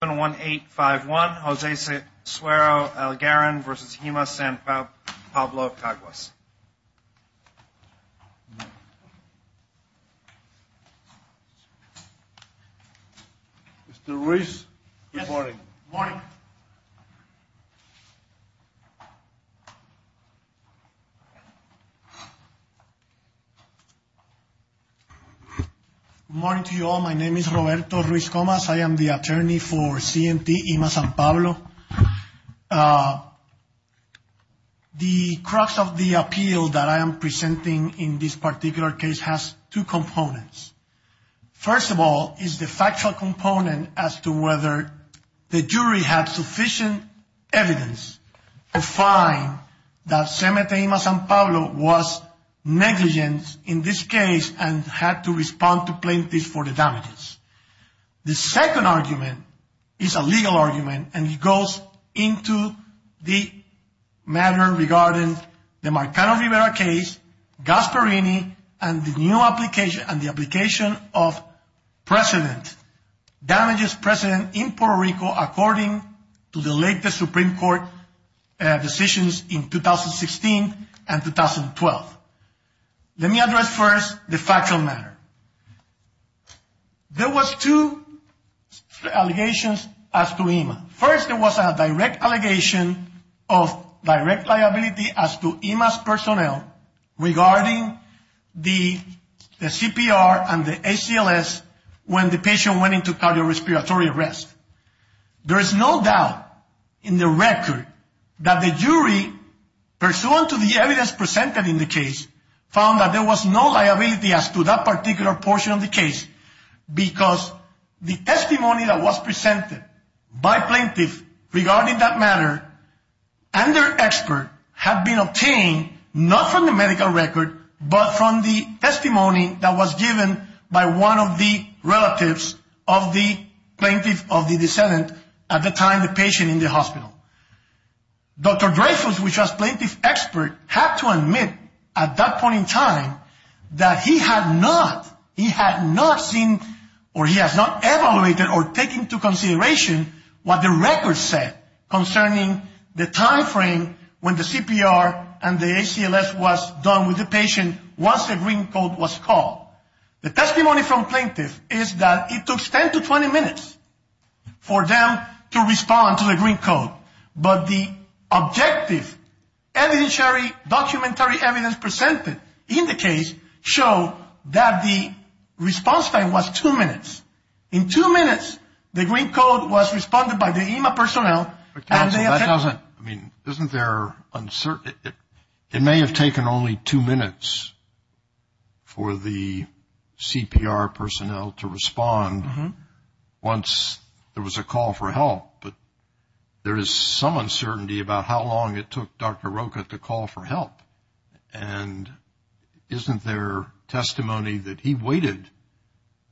71851 Jose Sero-Algarin v. Hima San Pablo Caguas Mr. Ruiz, good morning. Good morning. Good morning to you all. My name is Roberto Ruiz Comas. I am the attorney for CMT Hima San Pablo. The crux of the appeal that I am presenting in this particular case has two components. First of all is the factual component as to whether the jury had sufficient evidence to find that CMT Hima San Pablo was negligent in this case and had to respond to plaintiffs for the damages. The second argument is a legal argument and it goes into the matter regarding the Marcano-Rivera case, Gasparini and the new application and the application of precedent, damages precedent in Puerto Rico according to the late Supreme Court decisions in 2016 and 2012. Let me address first the factual matter. There was two allegations as to Hima. First there was a direct allegation of direct liability as to Hima's personnel regarding the CPR and the ACLS when the patient went into cardiorespiratory arrest. There is no doubt in the record that the jury pursuant to the evidence presented in the case found that there was no liability as to that particular portion of the case because the testimony that was presented by plaintiff regarding that matter and their expert had been obtained not from the medical record but from the testimony that was given by one of the relatives of the plaintiff of the case. Dr. Dreyfus, which was plaintiff's expert, had to admit at that point in time that he had not seen or he has not evaluated or taken into consideration what the record said concerning the timeframe when the CPR and the ACLS was done with the patient once the green code was called. The testimony from plaintiff is that it took 10 to 20 minutes for them to respond to the green code. But the objective evidentiary documentary evidence presented in the case showed that the response time was two minutes. In two minutes the green code was responded by the Hima personnel. Isn't there uncertainty? It may have taken only two minutes for the CPR personnel to respond once there was a call for help. But there is some uncertainty about how long it took Dr. Rocha to call for help. And isn't there testimony that he waited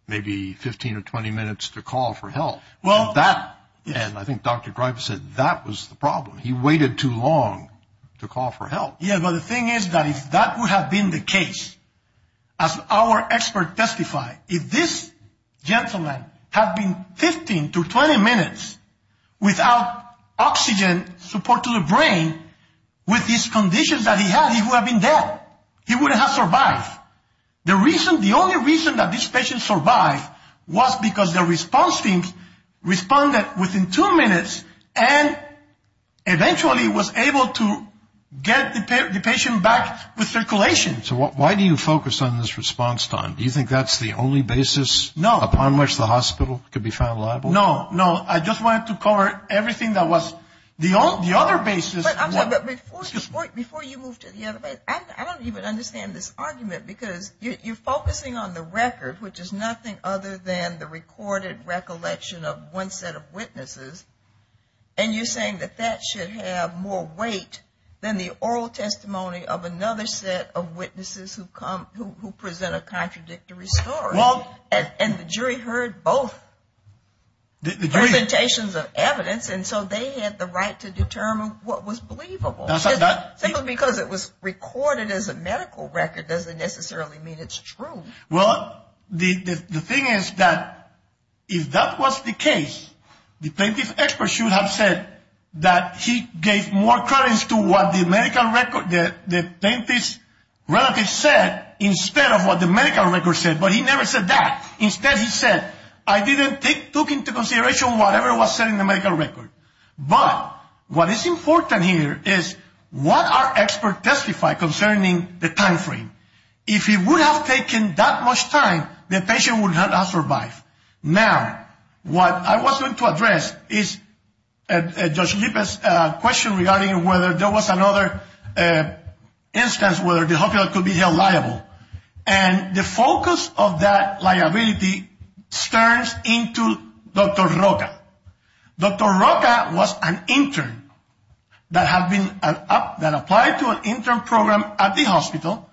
maybe 15 or 20 minutes to call for help? And I think Dr. Dreyfus said that was the problem. He waited too long to call for help. Yeah, but the thing is that if that would have been the case, as our expert testified, if this gentleman had been 15 to 20 minutes without oxygen support to the brain with these conditions that he had, he would have been dead. He wouldn't have survived. The only reason that this patient survived was because the response team responded within two minutes and eventually was able to get the patient back with circulation. So why do you focus on this response time? Do you think that's the only basis upon which the hospital could be found liable? No, no. I just wanted to cover everything that was the other basis. But before you move to the other basis, I don't even understand this argument because you're focusing on the record, which is nothing other than the recorded recollection of one set of witnesses, and you're saying that that should have more weight than the oral testimony of another set of witnesses who present a contradictory story. And the jury heard both presentations of evidence, and so they had the right to determine what was believable. Simply because it was recorded as a medical record doesn't necessarily mean it's true. Well, the thing is that if that was the case, the plaintiff's expert should have said that he gave more credence to what the plaintiff's relative said instead of what the medical record said, but he never said that. Instead he said, I didn't take into consideration whatever was said in the medical record. But what is important here is what our expert testified concerning the time frame. If he would have taken that much time, the patient would not have survived. Now, what I was going to address is Judge Lippert's question regarding whether there was another instance where the hospital could be held liable. And the focus of that liability turns into Dr. Roca. Dr. Roca was an intern that applied to an intern program at the hospital.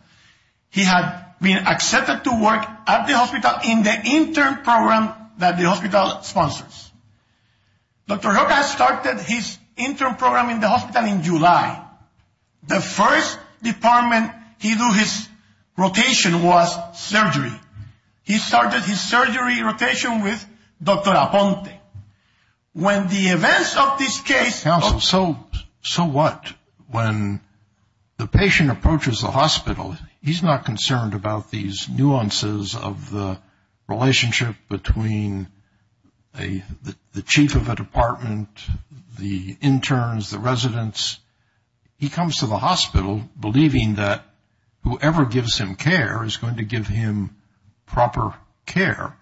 He had been accepted to work at the hospital in the intern program that the hospital sponsors. Dr. Roca started his intern program in the hospital in July. The first department he did his rotation was surgery. He started his surgery rotation with Dr. Aponte. When the events of this case… Counsel, so what? When the patient approaches the hospital, he's not concerned about these nuances of the relationship between the chief of a department, the interns, the residents. He comes to the hospital believing that whoever gives him care is going to give him proper care.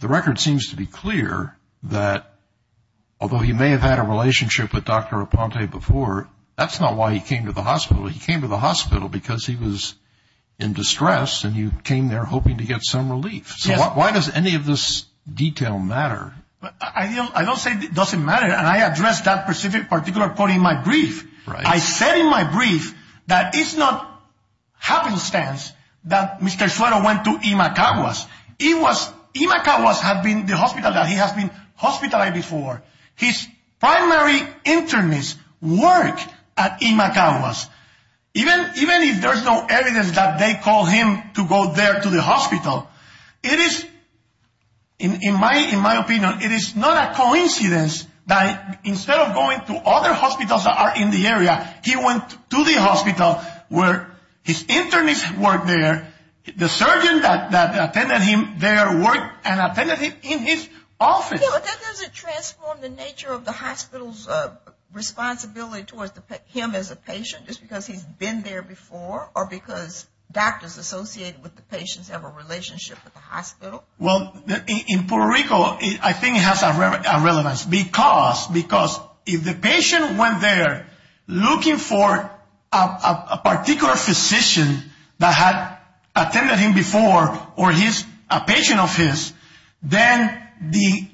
The record seems to be clear that although he may have had a relationship with Dr. Aponte before, that's not why he came to the hospital. He came to the hospital because he was in distress and you came there hoping to get some relief. So why does any of this detail matter? I don't say it doesn't matter and I addressed that particular point in my brief. I said in my brief that it's not happenstance that Mr. Suero went to Imacawas. Imacawas has been the hospital that he has been hospitalized before. His primary intern is work at Imacawas. Even if there's no evidence that they called him to go there to the hospital, it is, in my opinion, it is not a coincidence that instead of going to other hospitals that are in the area, he went to the hospital where his intern is working there. The surgeon that attended him there worked and attended him in his office. Okay, but that doesn't transform the nature of the hospital's responsibility towards him as a patient just because he's been there before or because doctors associated with the patients have a relationship with the hospital? Well, in Puerto Rico, I think it has a relevance because if the patient went there looking for a particular physician that had attended him before or a patient of his, then the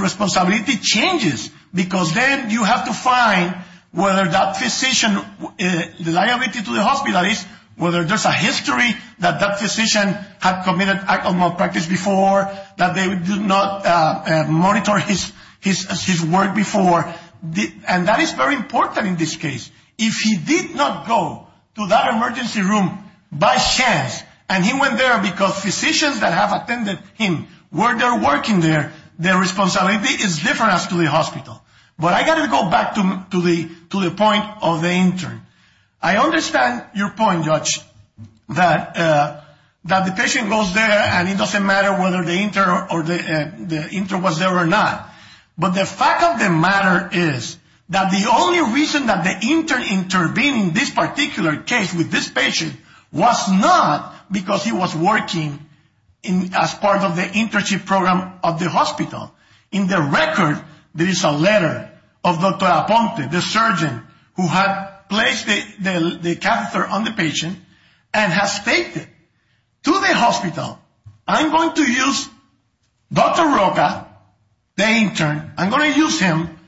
responsibility changes because then you have to find whether that physician, the liability to the hospital is whether there's a history that that physician had committed an act of malpractice before, that they did not monitor his work before, and that is very important in this case. If he did not go to that emergency room by chance and he went there because physicians that have attended him were there working there, their responsibility is different as to the hospital. But I got to go back to the point of the intern. I understand your point, Judge, that the patient goes there and it doesn't matter whether the intern was there or not. But the fact of the matter is that the only reason that the intern intervened in this particular case with this patient was not because he was working as part of the internship program of the hospital. In the record, there is a letter of Dr. Aponte, the surgeon who had placed the catheter on the patient and has stated to the hospital, I'm going to use Dr. Roca, the intern, I'm going to use him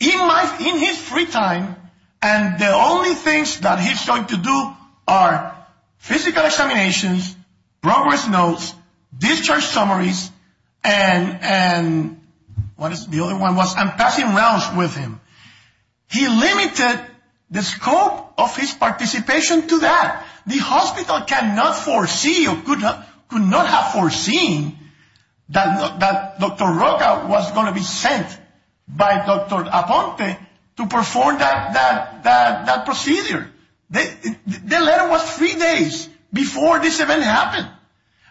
in his free time, and the only things that he's going to do are physical examinations, progress notes, discharge summaries, and the other one was I'm passing rounds with him. He limited the scope of his participation to that. The hospital cannot foresee or could not have foreseen that Dr. Roca was going to be sent by Dr. Aponte to perform that procedure. The letter was three days before this event happened.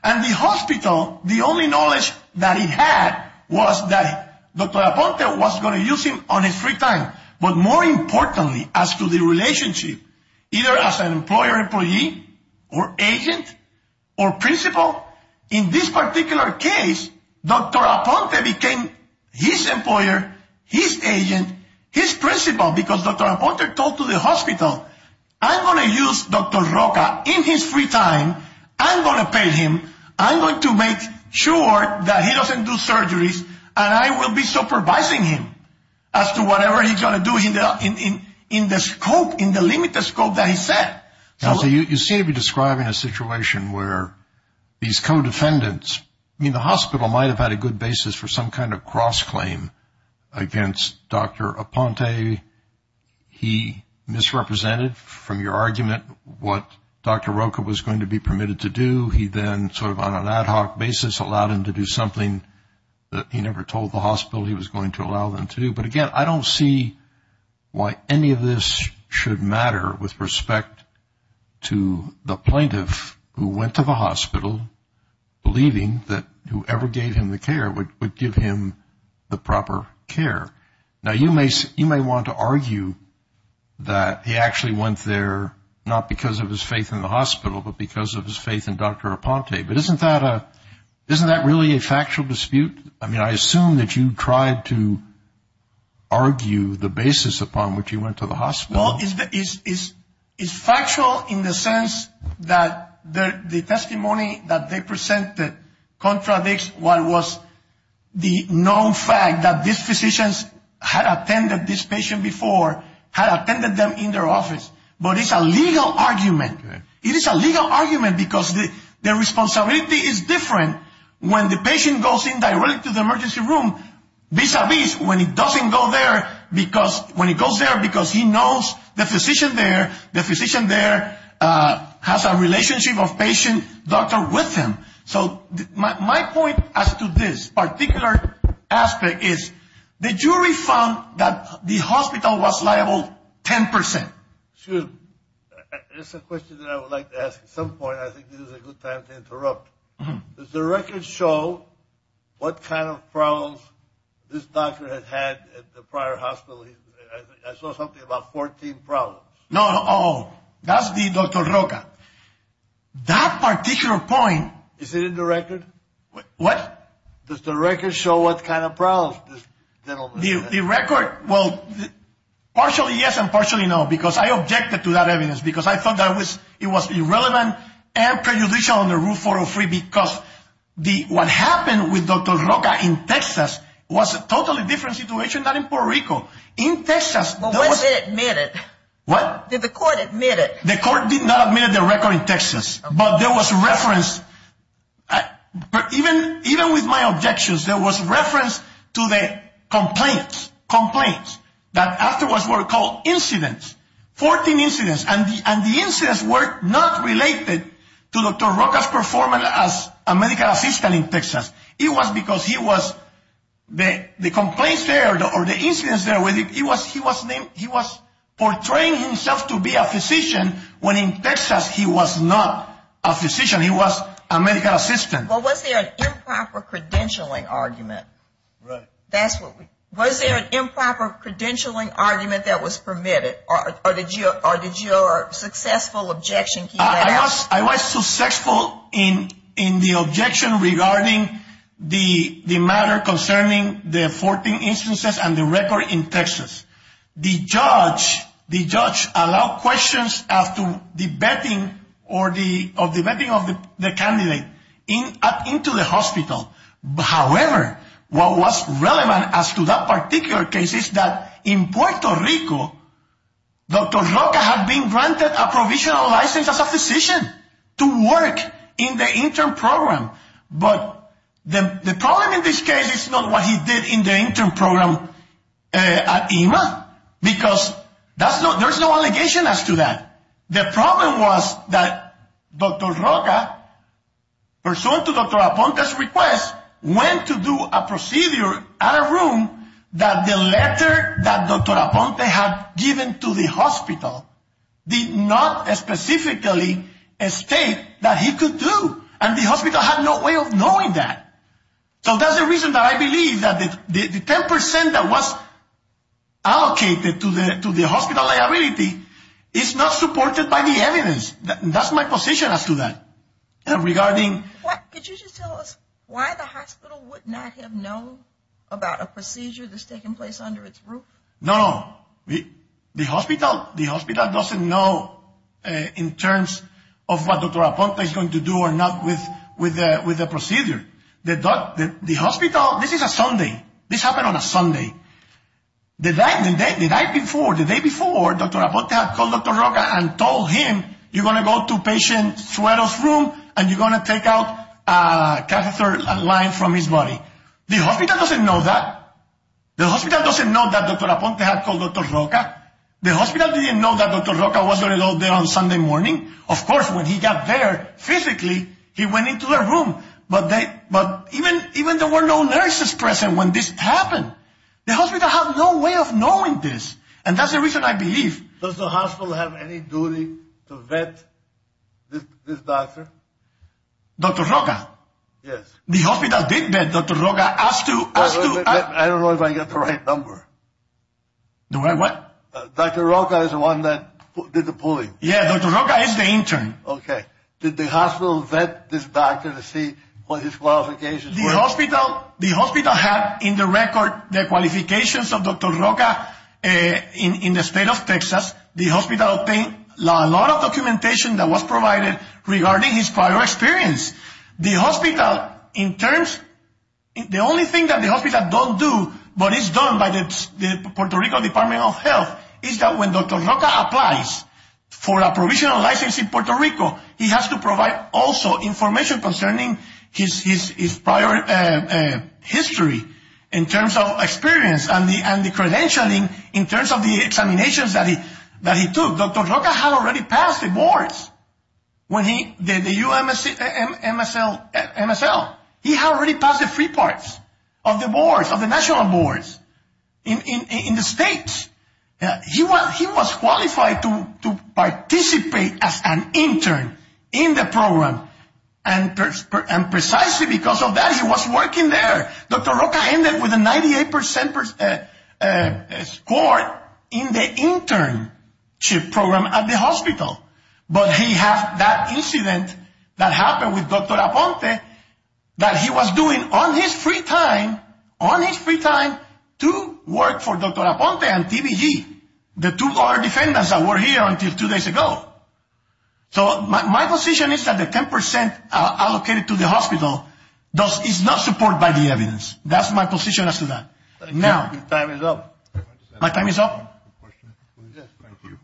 And the hospital, the only knowledge that he had was that Dr. Aponte was going to use him on his free time. But more importantly, as to the relationship, either as an employer-employee or agent or principal, in this particular case, Dr. Aponte became his employer, his agent, his principal, because Dr. Aponte told the hospital, I'm going to use Dr. Roca in his free time, I'm going to pay him, I'm going to make sure that he doesn't do surgeries, and I will be supervising him as to whatever he's going to do in the scope, in the limited scope that he set. So you seem to be describing a situation where these co-defendants, I mean, the hospital might have had a good basis for some kind of cross-claim against Dr. Aponte. He misrepresented from your argument what Dr. Roca was going to be permitted to do. He then sort of on an ad hoc basis allowed him to do something that he never told the hospital he was going to allow them to do. But again, I don't see why any of this should matter with respect to the plaintiff who went to the hospital, believing that whoever gave him the care would give him the proper care. Now, you may want to argue that he actually went there not because of his faith in the hospital, but because of his faith in Dr. Aponte. But isn't that really a factual dispute? I mean, I assume that you tried to argue the basis upon which he went to the hospital. Well, it's factual in the sense that the testimony that they presented contradicts what was the known fact that these physicians had attended this patient before, had attended them in their office. But it's a legal argument. It is a legal argument because the responsibility is different. When the patient goes in directly to the emergency room, vis-a-vis when he doesn't go there because when he goes there because he knows the physician there, the physician there has a relationship of patient-doctor with him. So my point as to this particular aspect is the jury found that the hospital was liable 10%. Excuse me. There's a question that I would like to ask at some point. I think this is a good time to interrupt. Does the record show what kind of problems this doctor has had at the prior hospital? I saw something about 14 problems. No. Oh, that's the Dr. Roca. That particular point. Is it in the record? What? Does the record show what kind of problems this gentleman has had? The record, well, partially yes and partially no because I objected to that evidence because I thought that it was irrelevant and prejudicial under Rule 403 because what happened with Dr. Roca in Texas was a totally different situation than in Puerto Rico. In Texas, there was – Well, was it admitted? What? Did the court admit it? The court did not admit the record in Texas. But there was reference, even with my objections, there was reference to the complaints that afterwards were called incidents, 14 incidents. And the incidents were not related to Dr. Roca's performance as a medical assistant in Texas. It was because he was – the complaints there or the incidents there, he was portraying himself to be a physician when in Texas he was not a physician. He was a medical assistant. Well, was there an improper credentialing argument? Right. Was there an improper credentialing argument that was permitted or did your successful objection – I was successful in the objection regarding the matter concerning the 14 instances and the record in Texas. The judge allowed questions after the vetting or the vetting of the candidate into the hospital. However, what was relevant as to that particular case is that in Puerto Rico, Dr. Roca had been granted a provisional license as a physician to work in the intern program. But the problem in this case is not what he did in the intern program at EMA, because there's no allegation as to that. The problem was that Dr. Roca, pursuant to Dr. Aponte's request, went to do a procedure at a room that the letter that Dr. Aponte had given to the hospital did not specifically state that he could do. And the hospital had no way of knowing that. So that's the reason that I believe that the 10 percent that was allocated to the hospital liability is not supported by the evidence. That's my position as to that. Could you just tell us why the hospital would not have known about a procedure that's taken place under its roof? No. The hospital doesn't know in terms of what Dr. Aponte is going to do or not with the procedure. The hospital – this is a Sunday. This happened on a Sunday. The night before, the day before, Dr. Aponte had called Dr. Roca and told him, you're going to go to patient Suero's room and you're going to take out a catheter line from his body. The hospital doesn't know that. The hospital doesn't know that Dr. Aponte had called Dr. Roca. The hospital didn't know that Dr. Roca was going to go there on Sunday morning. Of course, when he got there physically, he went into the room. But even there were no nurses present when this happened. The hospital had no way of knowing this. And that's the reason I believe – Does the hospital have any duty to vet this doctor? Dr. Roca? Yes. The hospital did vet Dr. Roca. I don't know if I got the right number. The right what? Dr. Roca is the one that did the pulling. Yeah, Dr. Roca is the intern. Okay. Did the hospital vet this doctor to see what his qualifications were? The hospital had in the record the qualifications of Dr. Roca in the state of Texas. The hospital obtained a lot of documentation that was provided regarding his prior experience. The hospital, in terms – the only thing that the hospital doesn't do but is done by the Puerto Rico Department of Health is that when Dr. Roca applies for a provisional license in Puerto Rico, he has to provide also information concerning his prior history in terms of experience and the credentialing in terms of the examinations that he took. Dr. Roca had already passed the boards when he – the UMSL. He had already passed the three parts of the boards, of the national boards in the states. He was qualified to participate as an intern in the program. And precisely because of that, he was working there. Dr. Roca ended with a 98% score in the internship program at the hospital. But he had that incident that happened with Dr. Aponte that he was doing on his free time, to work for Dr. Aponte and TBG, the two other defendants that were here until two days ago. So my position is that the 10% allocated to the hospital is not supported by the evidence. That's my position as to that. Now – Time is up. My time is up? Yes, thank you.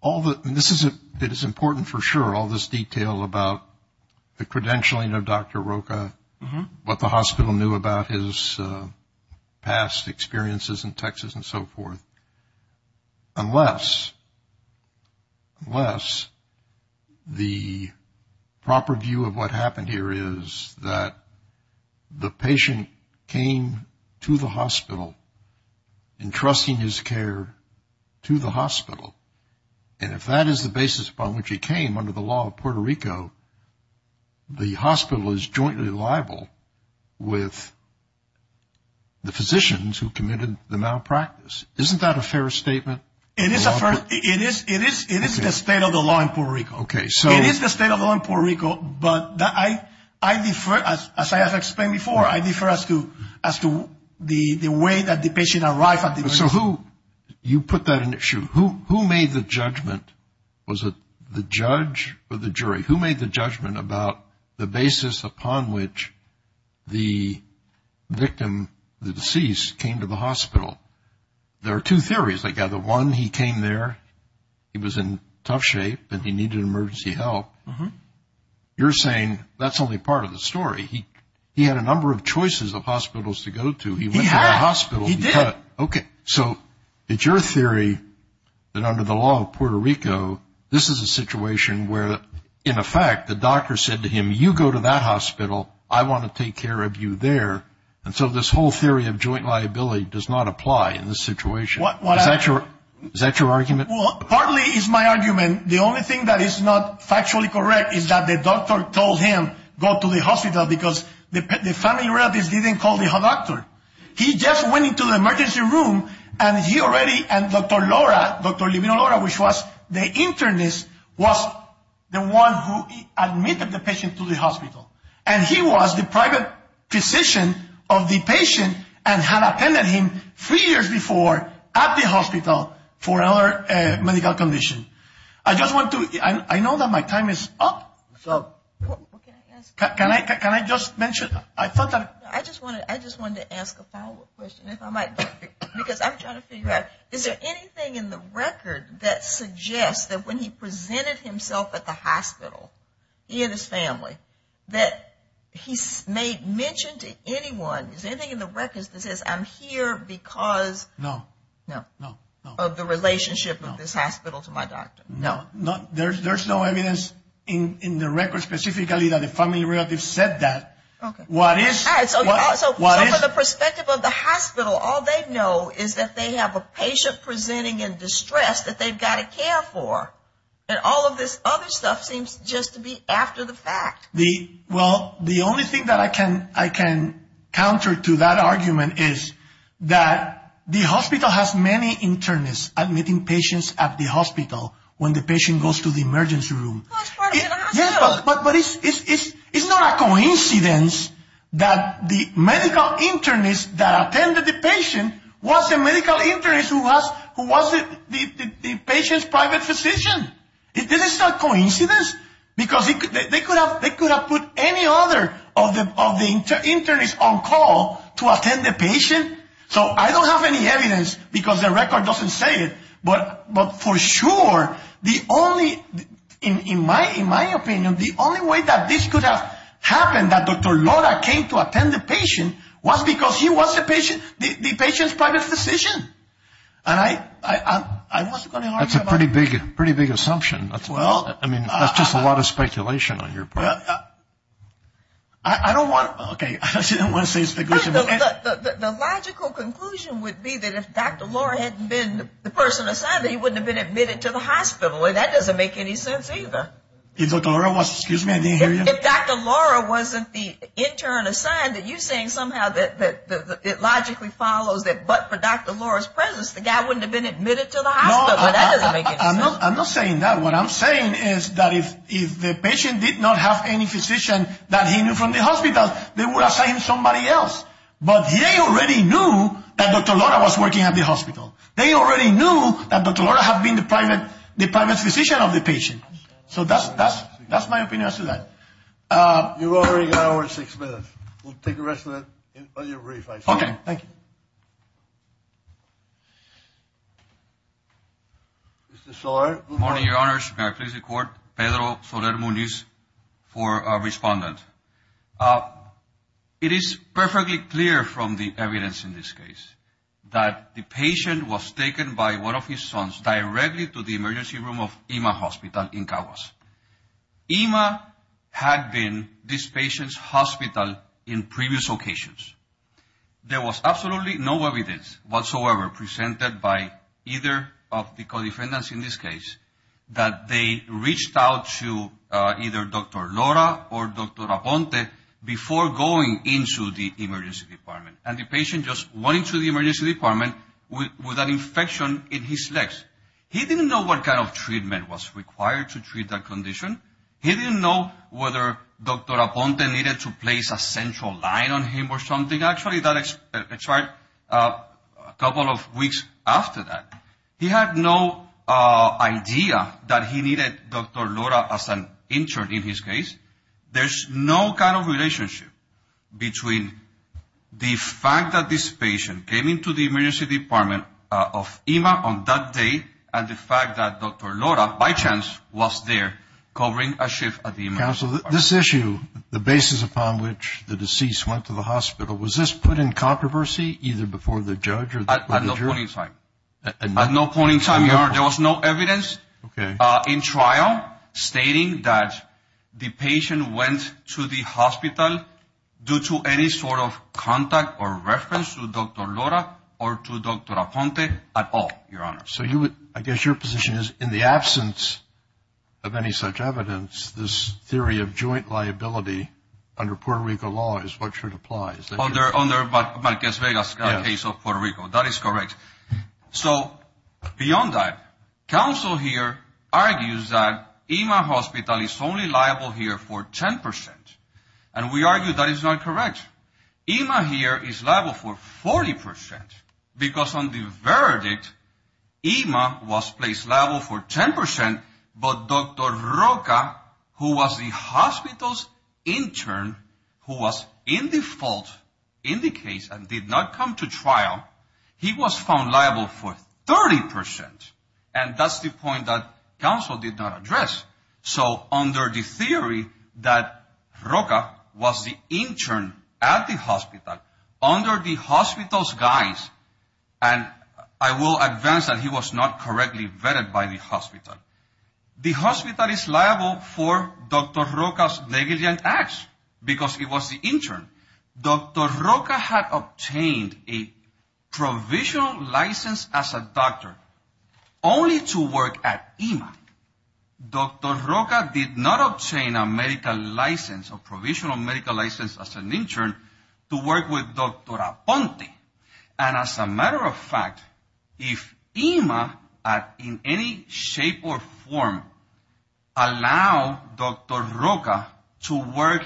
All the – this is important for sure, all this detail about the credentialing of Dr. Roca, what the hospital knew about his past experiences in Texas and so forth. Unless – unless the proper view of what happened here is that the patient came to the hospital, entrusting his care to the hospital. And if that is the basis upon which he came under the law of Puerto Rico, the hospital is jointly liable with the physicians who committed the malpractice. Isn't that a fair statement? It is a fair – it is the state of the law in Puerto Rico. Okay, so – It is the state of the law in Puerto Rico, but I defer, as I have explained before, I defer as to the way that the patient arrived at the – So who – you put that in issue. Who made the judgment? Was it the judge or the jury? Who made the judgment about the basis upon which the victim, the deceased, came to the hospital? There are two theories, I gather. One, he came there, he was in tough shape, and he needed emergency help. You're saying that's only part of the story. He had a number of choices of hospitals to go to. He went to the hospital. He did. Okay, so it's your theory that under the law of Puerto Rico, this is a situation where, in effect, the doctor said to him, you go to that hospital, I want to take care of you there. And so this whole theory of joint liability does not apply in this situation. Is that your argument? Well, partly it's my argument. The only thing that is not factually correct is that the doctor told him go to the hospital because the family relatives didn't call the doctor. He just went into the emergency room, and he already, and Dr. Lora, Dr. Lomita Lora, which was the internist, was the one who admitted the patient to the hospital. And he was the private physician of the patient and had attended him three years before at the hospital for another medical condition. I just want to, I know that my time is up. What's up? Can I just mention? I just wanted to ask a follow-up question if I might, because I'm trying to figure out, is there anything in the record that suggests that when he presented himself at the hospital, he and his family, that he made mention to anyone, is there anything in the records that says, I'm here because of the relationship of this hospital to my doctor? No. There's no evidence in the records specifically that the family relatives said that. Okay. So from the perspective of the hospital, all they know is that they have a patient presenting in distress that they've got to care for, and all of this other stuff seems just to be after the fact. Well, the only thing that I can counter to that argument is that the hospital has many internists admitting patients at the hospital when the patient goes to the emergency room. But it's not a coincidence that the medical internist that attended the patient was a medical internist who was the patient's private physician. This is not coincidence, because they could have put any other of the internists on call to attend the patient. So I don't have any evidence because the record doesn't say it, but for sure, in my opinion, the only way that this could have happened, that Dr. Lora came to attend the patient, was because he was the patient's private physician. And I wasn't going to argue about that. That's a pretty big assumption. I mean, that's just a lot of speculation on your part. I don't want to say it's speculation. The logical conclusion would be that if Dr. Lora hadn't been the person assigned, that he wouldn't have been admitted to the hospital, and that doesn't make any sense either. If Dr. Lora wasn't the intern assigned, that you're saying somehow that it logically follows that but for Dr. Lora's presence, the guy wouldn't have been admitted to the hospital, but that doesn't make any sense. I'm not saying that. What I'm saying is that if the patient did not have any physician that he knew from the hospital, they would have assigned somebody else. But they already knew that Dr. Lora was working at the hospital. They already knew that Dr. Lora had been the private physician of the patient. So that's my opinion as to that. You've already gone over six minutes. We'll take the rest of it on your brief. Okay. Thank you. Mr. Soler. Good morning, Your Honors. May I please record? Pedro Soler Muniz for our respondent. It is perfectly clear from the evidence in this case that the patient was taken by one of his sons directly to the emergency room of IMA Hospital in Cagas. IMA had been this patient's hospital in previous occasions. There was absolutely no evidence whatsoever presented by either of the co-defendants in this case that they reached out to either Dr. Lora or Dr. Raponte before going into the emergency department. And the patient just went into the emergency department with an infection in his legs. He didn't know what kind of treatment was required to treat that condition. He didn't know whether Dr. Raponte needed to place a central line on him or something. Actually, that expired a couple of weeks after that. He had no idea that he needed Dr. Lora as an intern in his case. There's no kind of relationship between the fact that this patient came into the emergency department of IMA on that day and the fact that Dr. Lora, by chance, was there covering a shift at the emergency department. Counsel, this issue, the basis upon which the deceased went to the hospital, was this put in controversy either before the judge or before the jury? At no point in time, Your Honor. There was no evidence in trial stating that the patient went to the hospital due to any sort of contact or reference to Dr. Lora or to Dr. Raponte at all, Your Honor. So I guess your position is in the absence of any such evidence, this theory of joint liability under Puerto Rico law is what should apply. Under Marquez-Vegas case of Puerto Rico. That is correct. So beyond that, counsel here argues that IMA hospital is only liable here for 10%. And we argue that is not correct. IMA here is liable for 40% because on the verdict, IMA was placed liable for 10%, but Dr. Roca, who was the hospital's intern, who was in the fault in the case and did not come to trial, he was found liable for 30%. And that's the point that counsel did not address. So under the theory that Roca was the intern at the hospital, under the hospital's guise, and I will advance that he was not correctly vetted by the hospital, the hospital is liable for Dr. Roca's negligent acts because he was the intern. Dr. Roca had obtained a provisional license as a doctor only to work at IMA. Dr. Roca did not obtain a medical license or provisional medical license as an intern to work with Dr. Aponte. And as a matter of fact, if IMA in any shape or form allowed Dr. Roca to work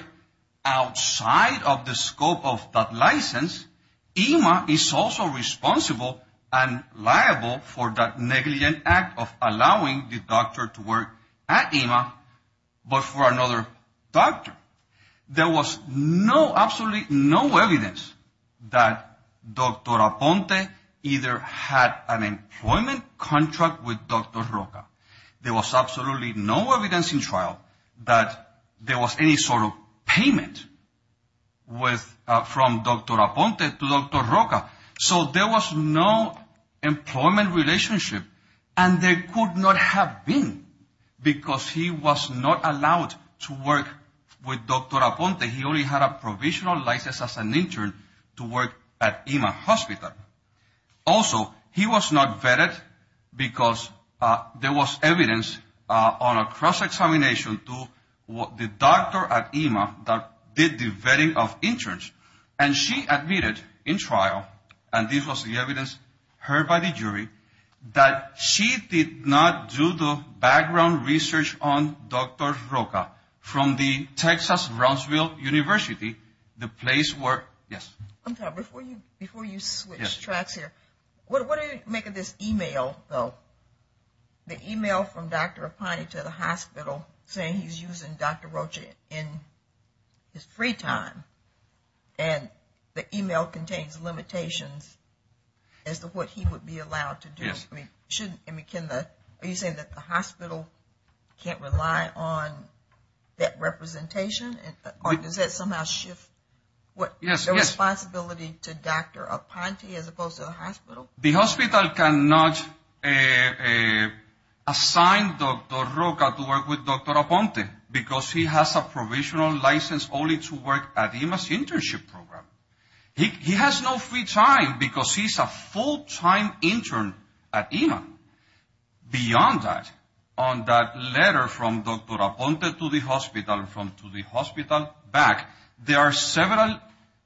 outside of the scope of that license, IMA is also responsible and liable for that negligent act of allowing the doctor to work at IMA but for another doctor. There was no, absolutely no evidence that Dr. Aponte either had an employment contract with Dr. Roca. There was absolutely no evidence in trial that there was any sort of payment from Dr. Aponte to Dr. Roca. So there was no employment relationship and there could not have been because he was not allowed to work with Dr. Aponte. He only had a provisional license as an intern to work at IMA hospital. Also, he was not vetted because there was evidence on a cross-examination to the doctor at IMA that did the vetting of interns. And she admitted in trial, and this was the evidence heard by the jury, that she did not do the background research on Dr. Roca from the Texas Roseville University, the place where, yes? Before you switch tracks here, what did it make of this email though? The email from Dr. Aponte to the hospital saying he's using Dr. Roca in his free time and the email contains limitations as to what he would be allowed to do. Yes. Are you saying that the hospital can't rely on that representation? Or does that somehow shift the responsibility to Dr. Aponte as opposed to the hospital? The hospital cannot assign Dr. Roca to work with Dr. Aponte because he has a provisional license only to work at IMA's internship program. He has no free time because he's a full-time intern at IMA. Beyond that, on that letter from Dr. Aponte to the hospital and from the hospital back, there are several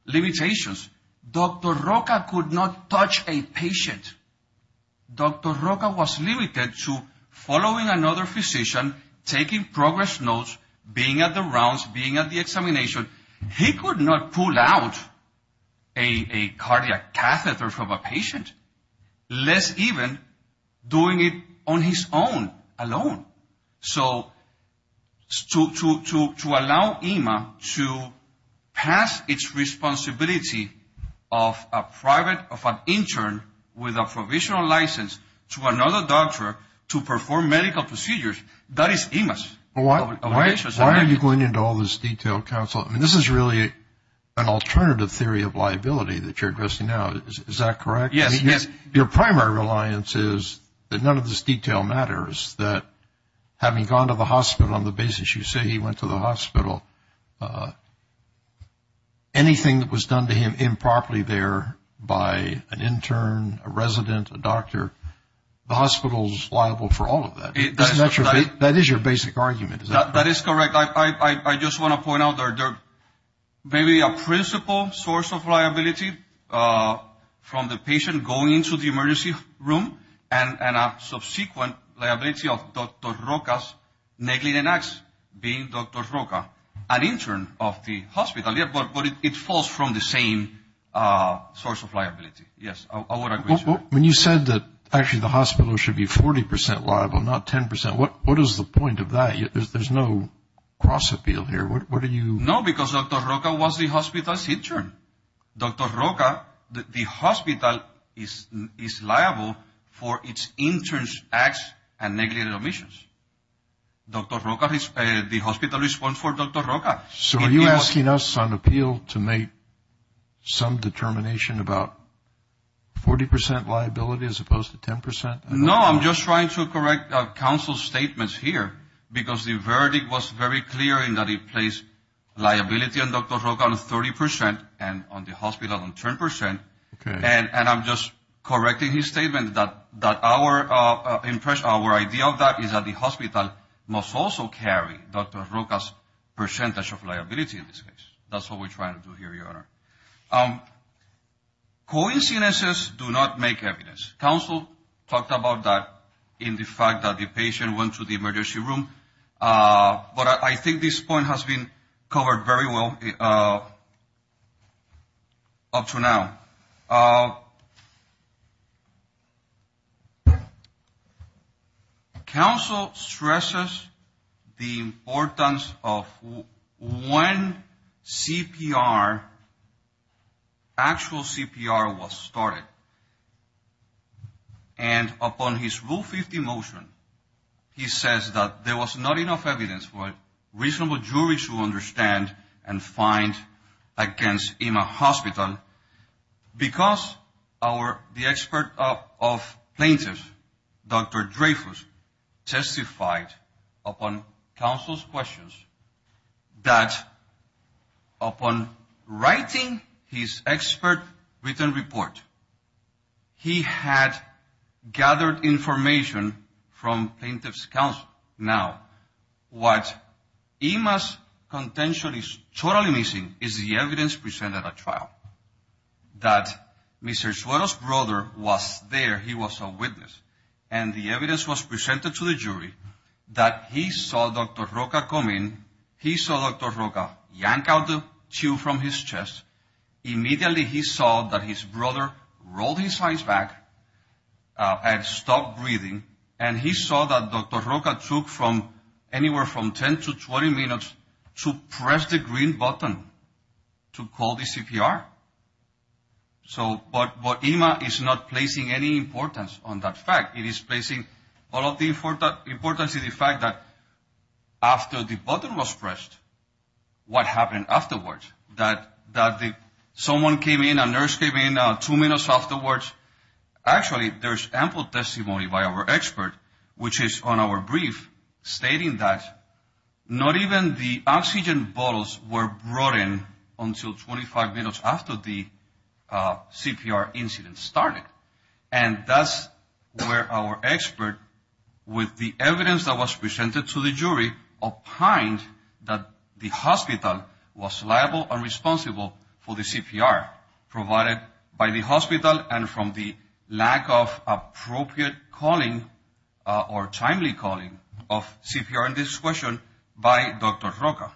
limitations. Dr. Roca could not touch a patient. Dr. Roca was limited to following another physician, taking progress notes, being at the rounds, being at the examination. He could not pull out a cardiac catheter from a patient, less even doing it on his own, alone. So to allow IMA to pass its responsibility of a private, of an intern with a provisional license to another doctor to perform medical procedures, that is IMA's obligation. Why are you going into all this detail, counsel? I mean, this is really an alternative theory of liability that you're addressing now. Is that correct? Yes. Your primary reliance is that none of this detail matters, that having gone to the hospital on the basis you say he went to the hospital, anything that was done to him improperly there by an intern, a resident, a doctor, the hospital is liable for all of that. That is your basic argument. That is correct. I just want to point out there may be a principal source of liability from the patient going into the emergency room and a subsequent liability of Dr. Roca's niggling an ax being Dr. Roca, an intern of the hospital. But it falls from the same source of liability. Yes. When you said that actually the hospital should be 40 percent liable, not 10 percent, what is the point of that? There's no cross-appeal here. What are you? No, because Dr. Roca was the hospital's intern. Dr. Roca, the hospital is liable for its intern's ax and niggling an ax. Dr. Roca, the hospital is one for Dr. Roca. So are you asking us on appeal to make some determination about 40 percent liability as opposed to 10 percent? No, I'm just trying to correct counsel's statements here because the verdict was very clear in that it placed liability on Dr. Roca on 30 percent and on the hospital on 10 percent. Okay. And I'm just correcting his statement that our idea of that is that the hospital must also carry Dr. Roca's percentage of liability in this case. That's what we're trying to do here, Your Honor. Coincidences do not make evidence. Counsel talked about that in the fact that the patient went to the emergency room. But I think this point has been covered very well up to now. Counsel stresses the importance of when CPR, actual CPR was started. And upon his Rule 50 motion, he says that there was not enough evidence for a reasonable jury to understand and find against IMA hospital because the expert of plaintiffs, Dr. Dreyfus, testified upon counsel's questions that upon writing his expert written report, he had gathered information from plaintiffs' counsel. Now, what IMA's contention is totally missing is the evidence presented at trial, that Mr. Suero's brother was there. He was a witness. And the evidence was presented to the jury that he saw Dr. Roca come in. He saw Dr. Roca yank out the tube from his chest. Immediately he saw that his brother rolled his eyes back and stopped breathing. And he saw that Dr. Roca took anywhere from 10 to 20 minutes to press the green button to call the CPR. But IMA is not placing any importance on that fact. It is placing all of the importance in the fact that after the button was pressed, what happened afterwards? That someone came in, a nurse came in, two minutes afterwards. Actually, there's ample testimony by our expert, which is on our brief, stating that not even the oxygen bottles were brought in until 25 minutes after the CPR incident started. And that's where our expert, with the evidence that was presented to the jury, opined that the hospital was liable and responsible for the CPR provided by the hospital and from the lack of appropriate calling or timely calling of CPR in this question by Dr. Roca.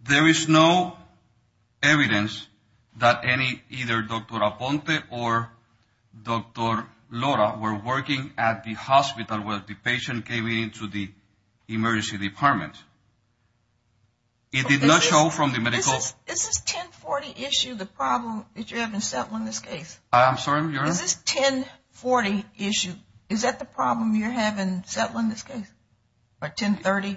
There is no evidence that either Dr. Aponte or Dr. Lora were working at the hospital when the patient came into the emergency department. It did not show from the medical... Is this 1040 issue the problem that you have in this case? I'm sorry, Your Honor? Is this 1040 issue, is that the problem you have in settling this case? Or 1030?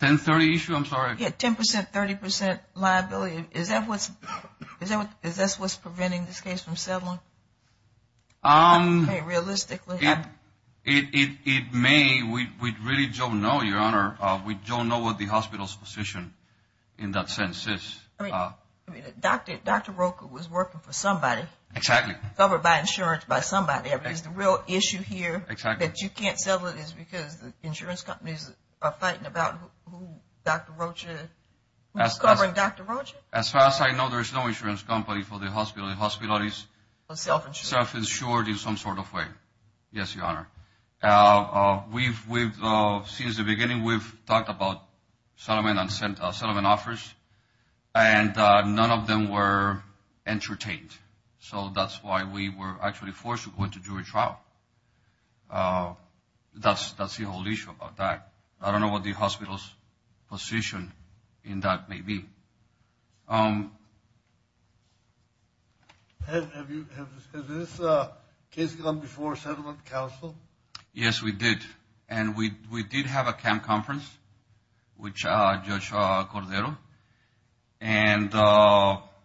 1030 issue, I'm sorry. Yeah, 10%, 30% liability. Is that what's preventing this case from settling? Realistically? It may. We really don't know, Your Honor. We don't know what the hospital's position in that sense is. Dr. Roca was working for somebody. Exactly. Covered by insurance by somebody. Is the real issue here that you can't settle it is because the insurance companies are fighting about Dr. Roca? Who's covering Dr. Roca? As far as I know, there's no insurance company for the hospital. The hospital is self-insured in some sort of way. Yes, Your Honor. Since the beginning, we've talked about settlement offers, and none of them were entertained. So that's why we were actually forced to go into jury trial. That's the whole issue about that. I don't know what the hospital's position in that may be. Has this case gone before settlement counsel? Yes, we did. And we did have a camp conference with Judge Cordero. And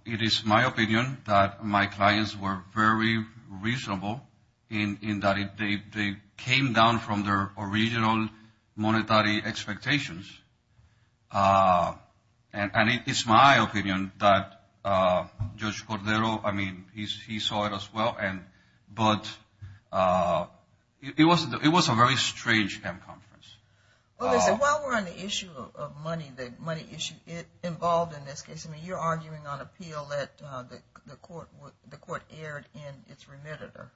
it is my opinion that my clients were very reasonable in that they came down from their original monetary expectations. And it's my opinion that Judge Cordero, I mean, he saw it as well. But it was a very strange camp conference. Well, listen, while we're on the issue of money, the money issue involved in this case, I mean, you're arguing on appeal that the court erred in its remitter.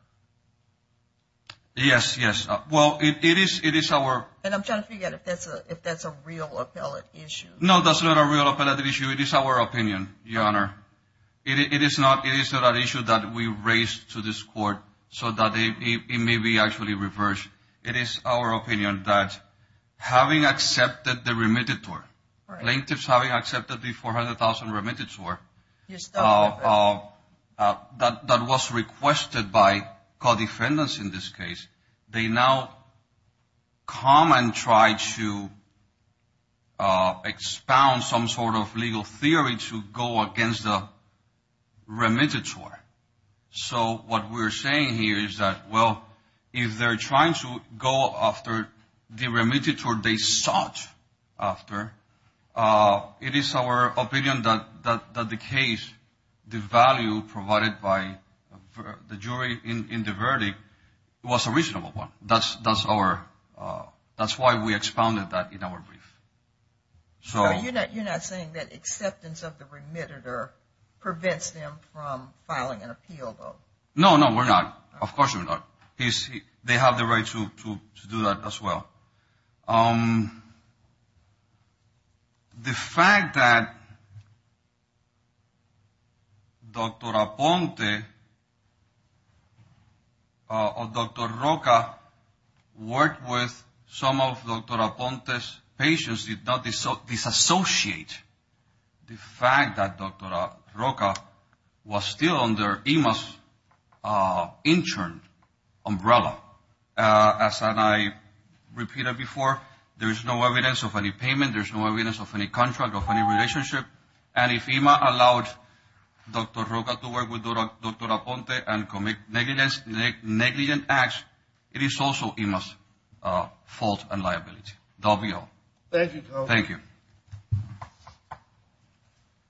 Yes, yes. Well, it is our – And I'm trying to figure out if that's a real appellate issue. No, that's not a real appellate issue. It is our opinion, Your Honor. It is not an issue that we raised to this court so that it may be actually reversed. It is our opinion that having accepted the remittitor, plaintiffs having accepted the $400,000 remittitor that was requested by co-defendants in this case, they now come and try to expound some sort of legal theory to go against the remittitor. So what we're saying here is that, well, if they're trying to go after the remittitor they sought after, it is our opinion that the case, the value provided by the jury in the verdict was a reasonable one. That's why we expounded that in our brief. So you're not saying that acceptance of the remittitor prevents them from filing an appeal, though? No, no, we're not. Of course we're not. They have the right to do that as well. The fact that Dr. Aponte or Dr. Roca worked with some of Dr. Aponte's patients did not disassociate the fact that Dr. Roca was still under EMA's intern umbrella. As I repeated before, there is no evidence of any payment. There is no evidence of any contract or any relationship. And if EMA allowed Dr. Roca to work with Dr. Aponte and commit negligent acts, it is also EMA's fault and liability. That will be all. Thank you. Thank you.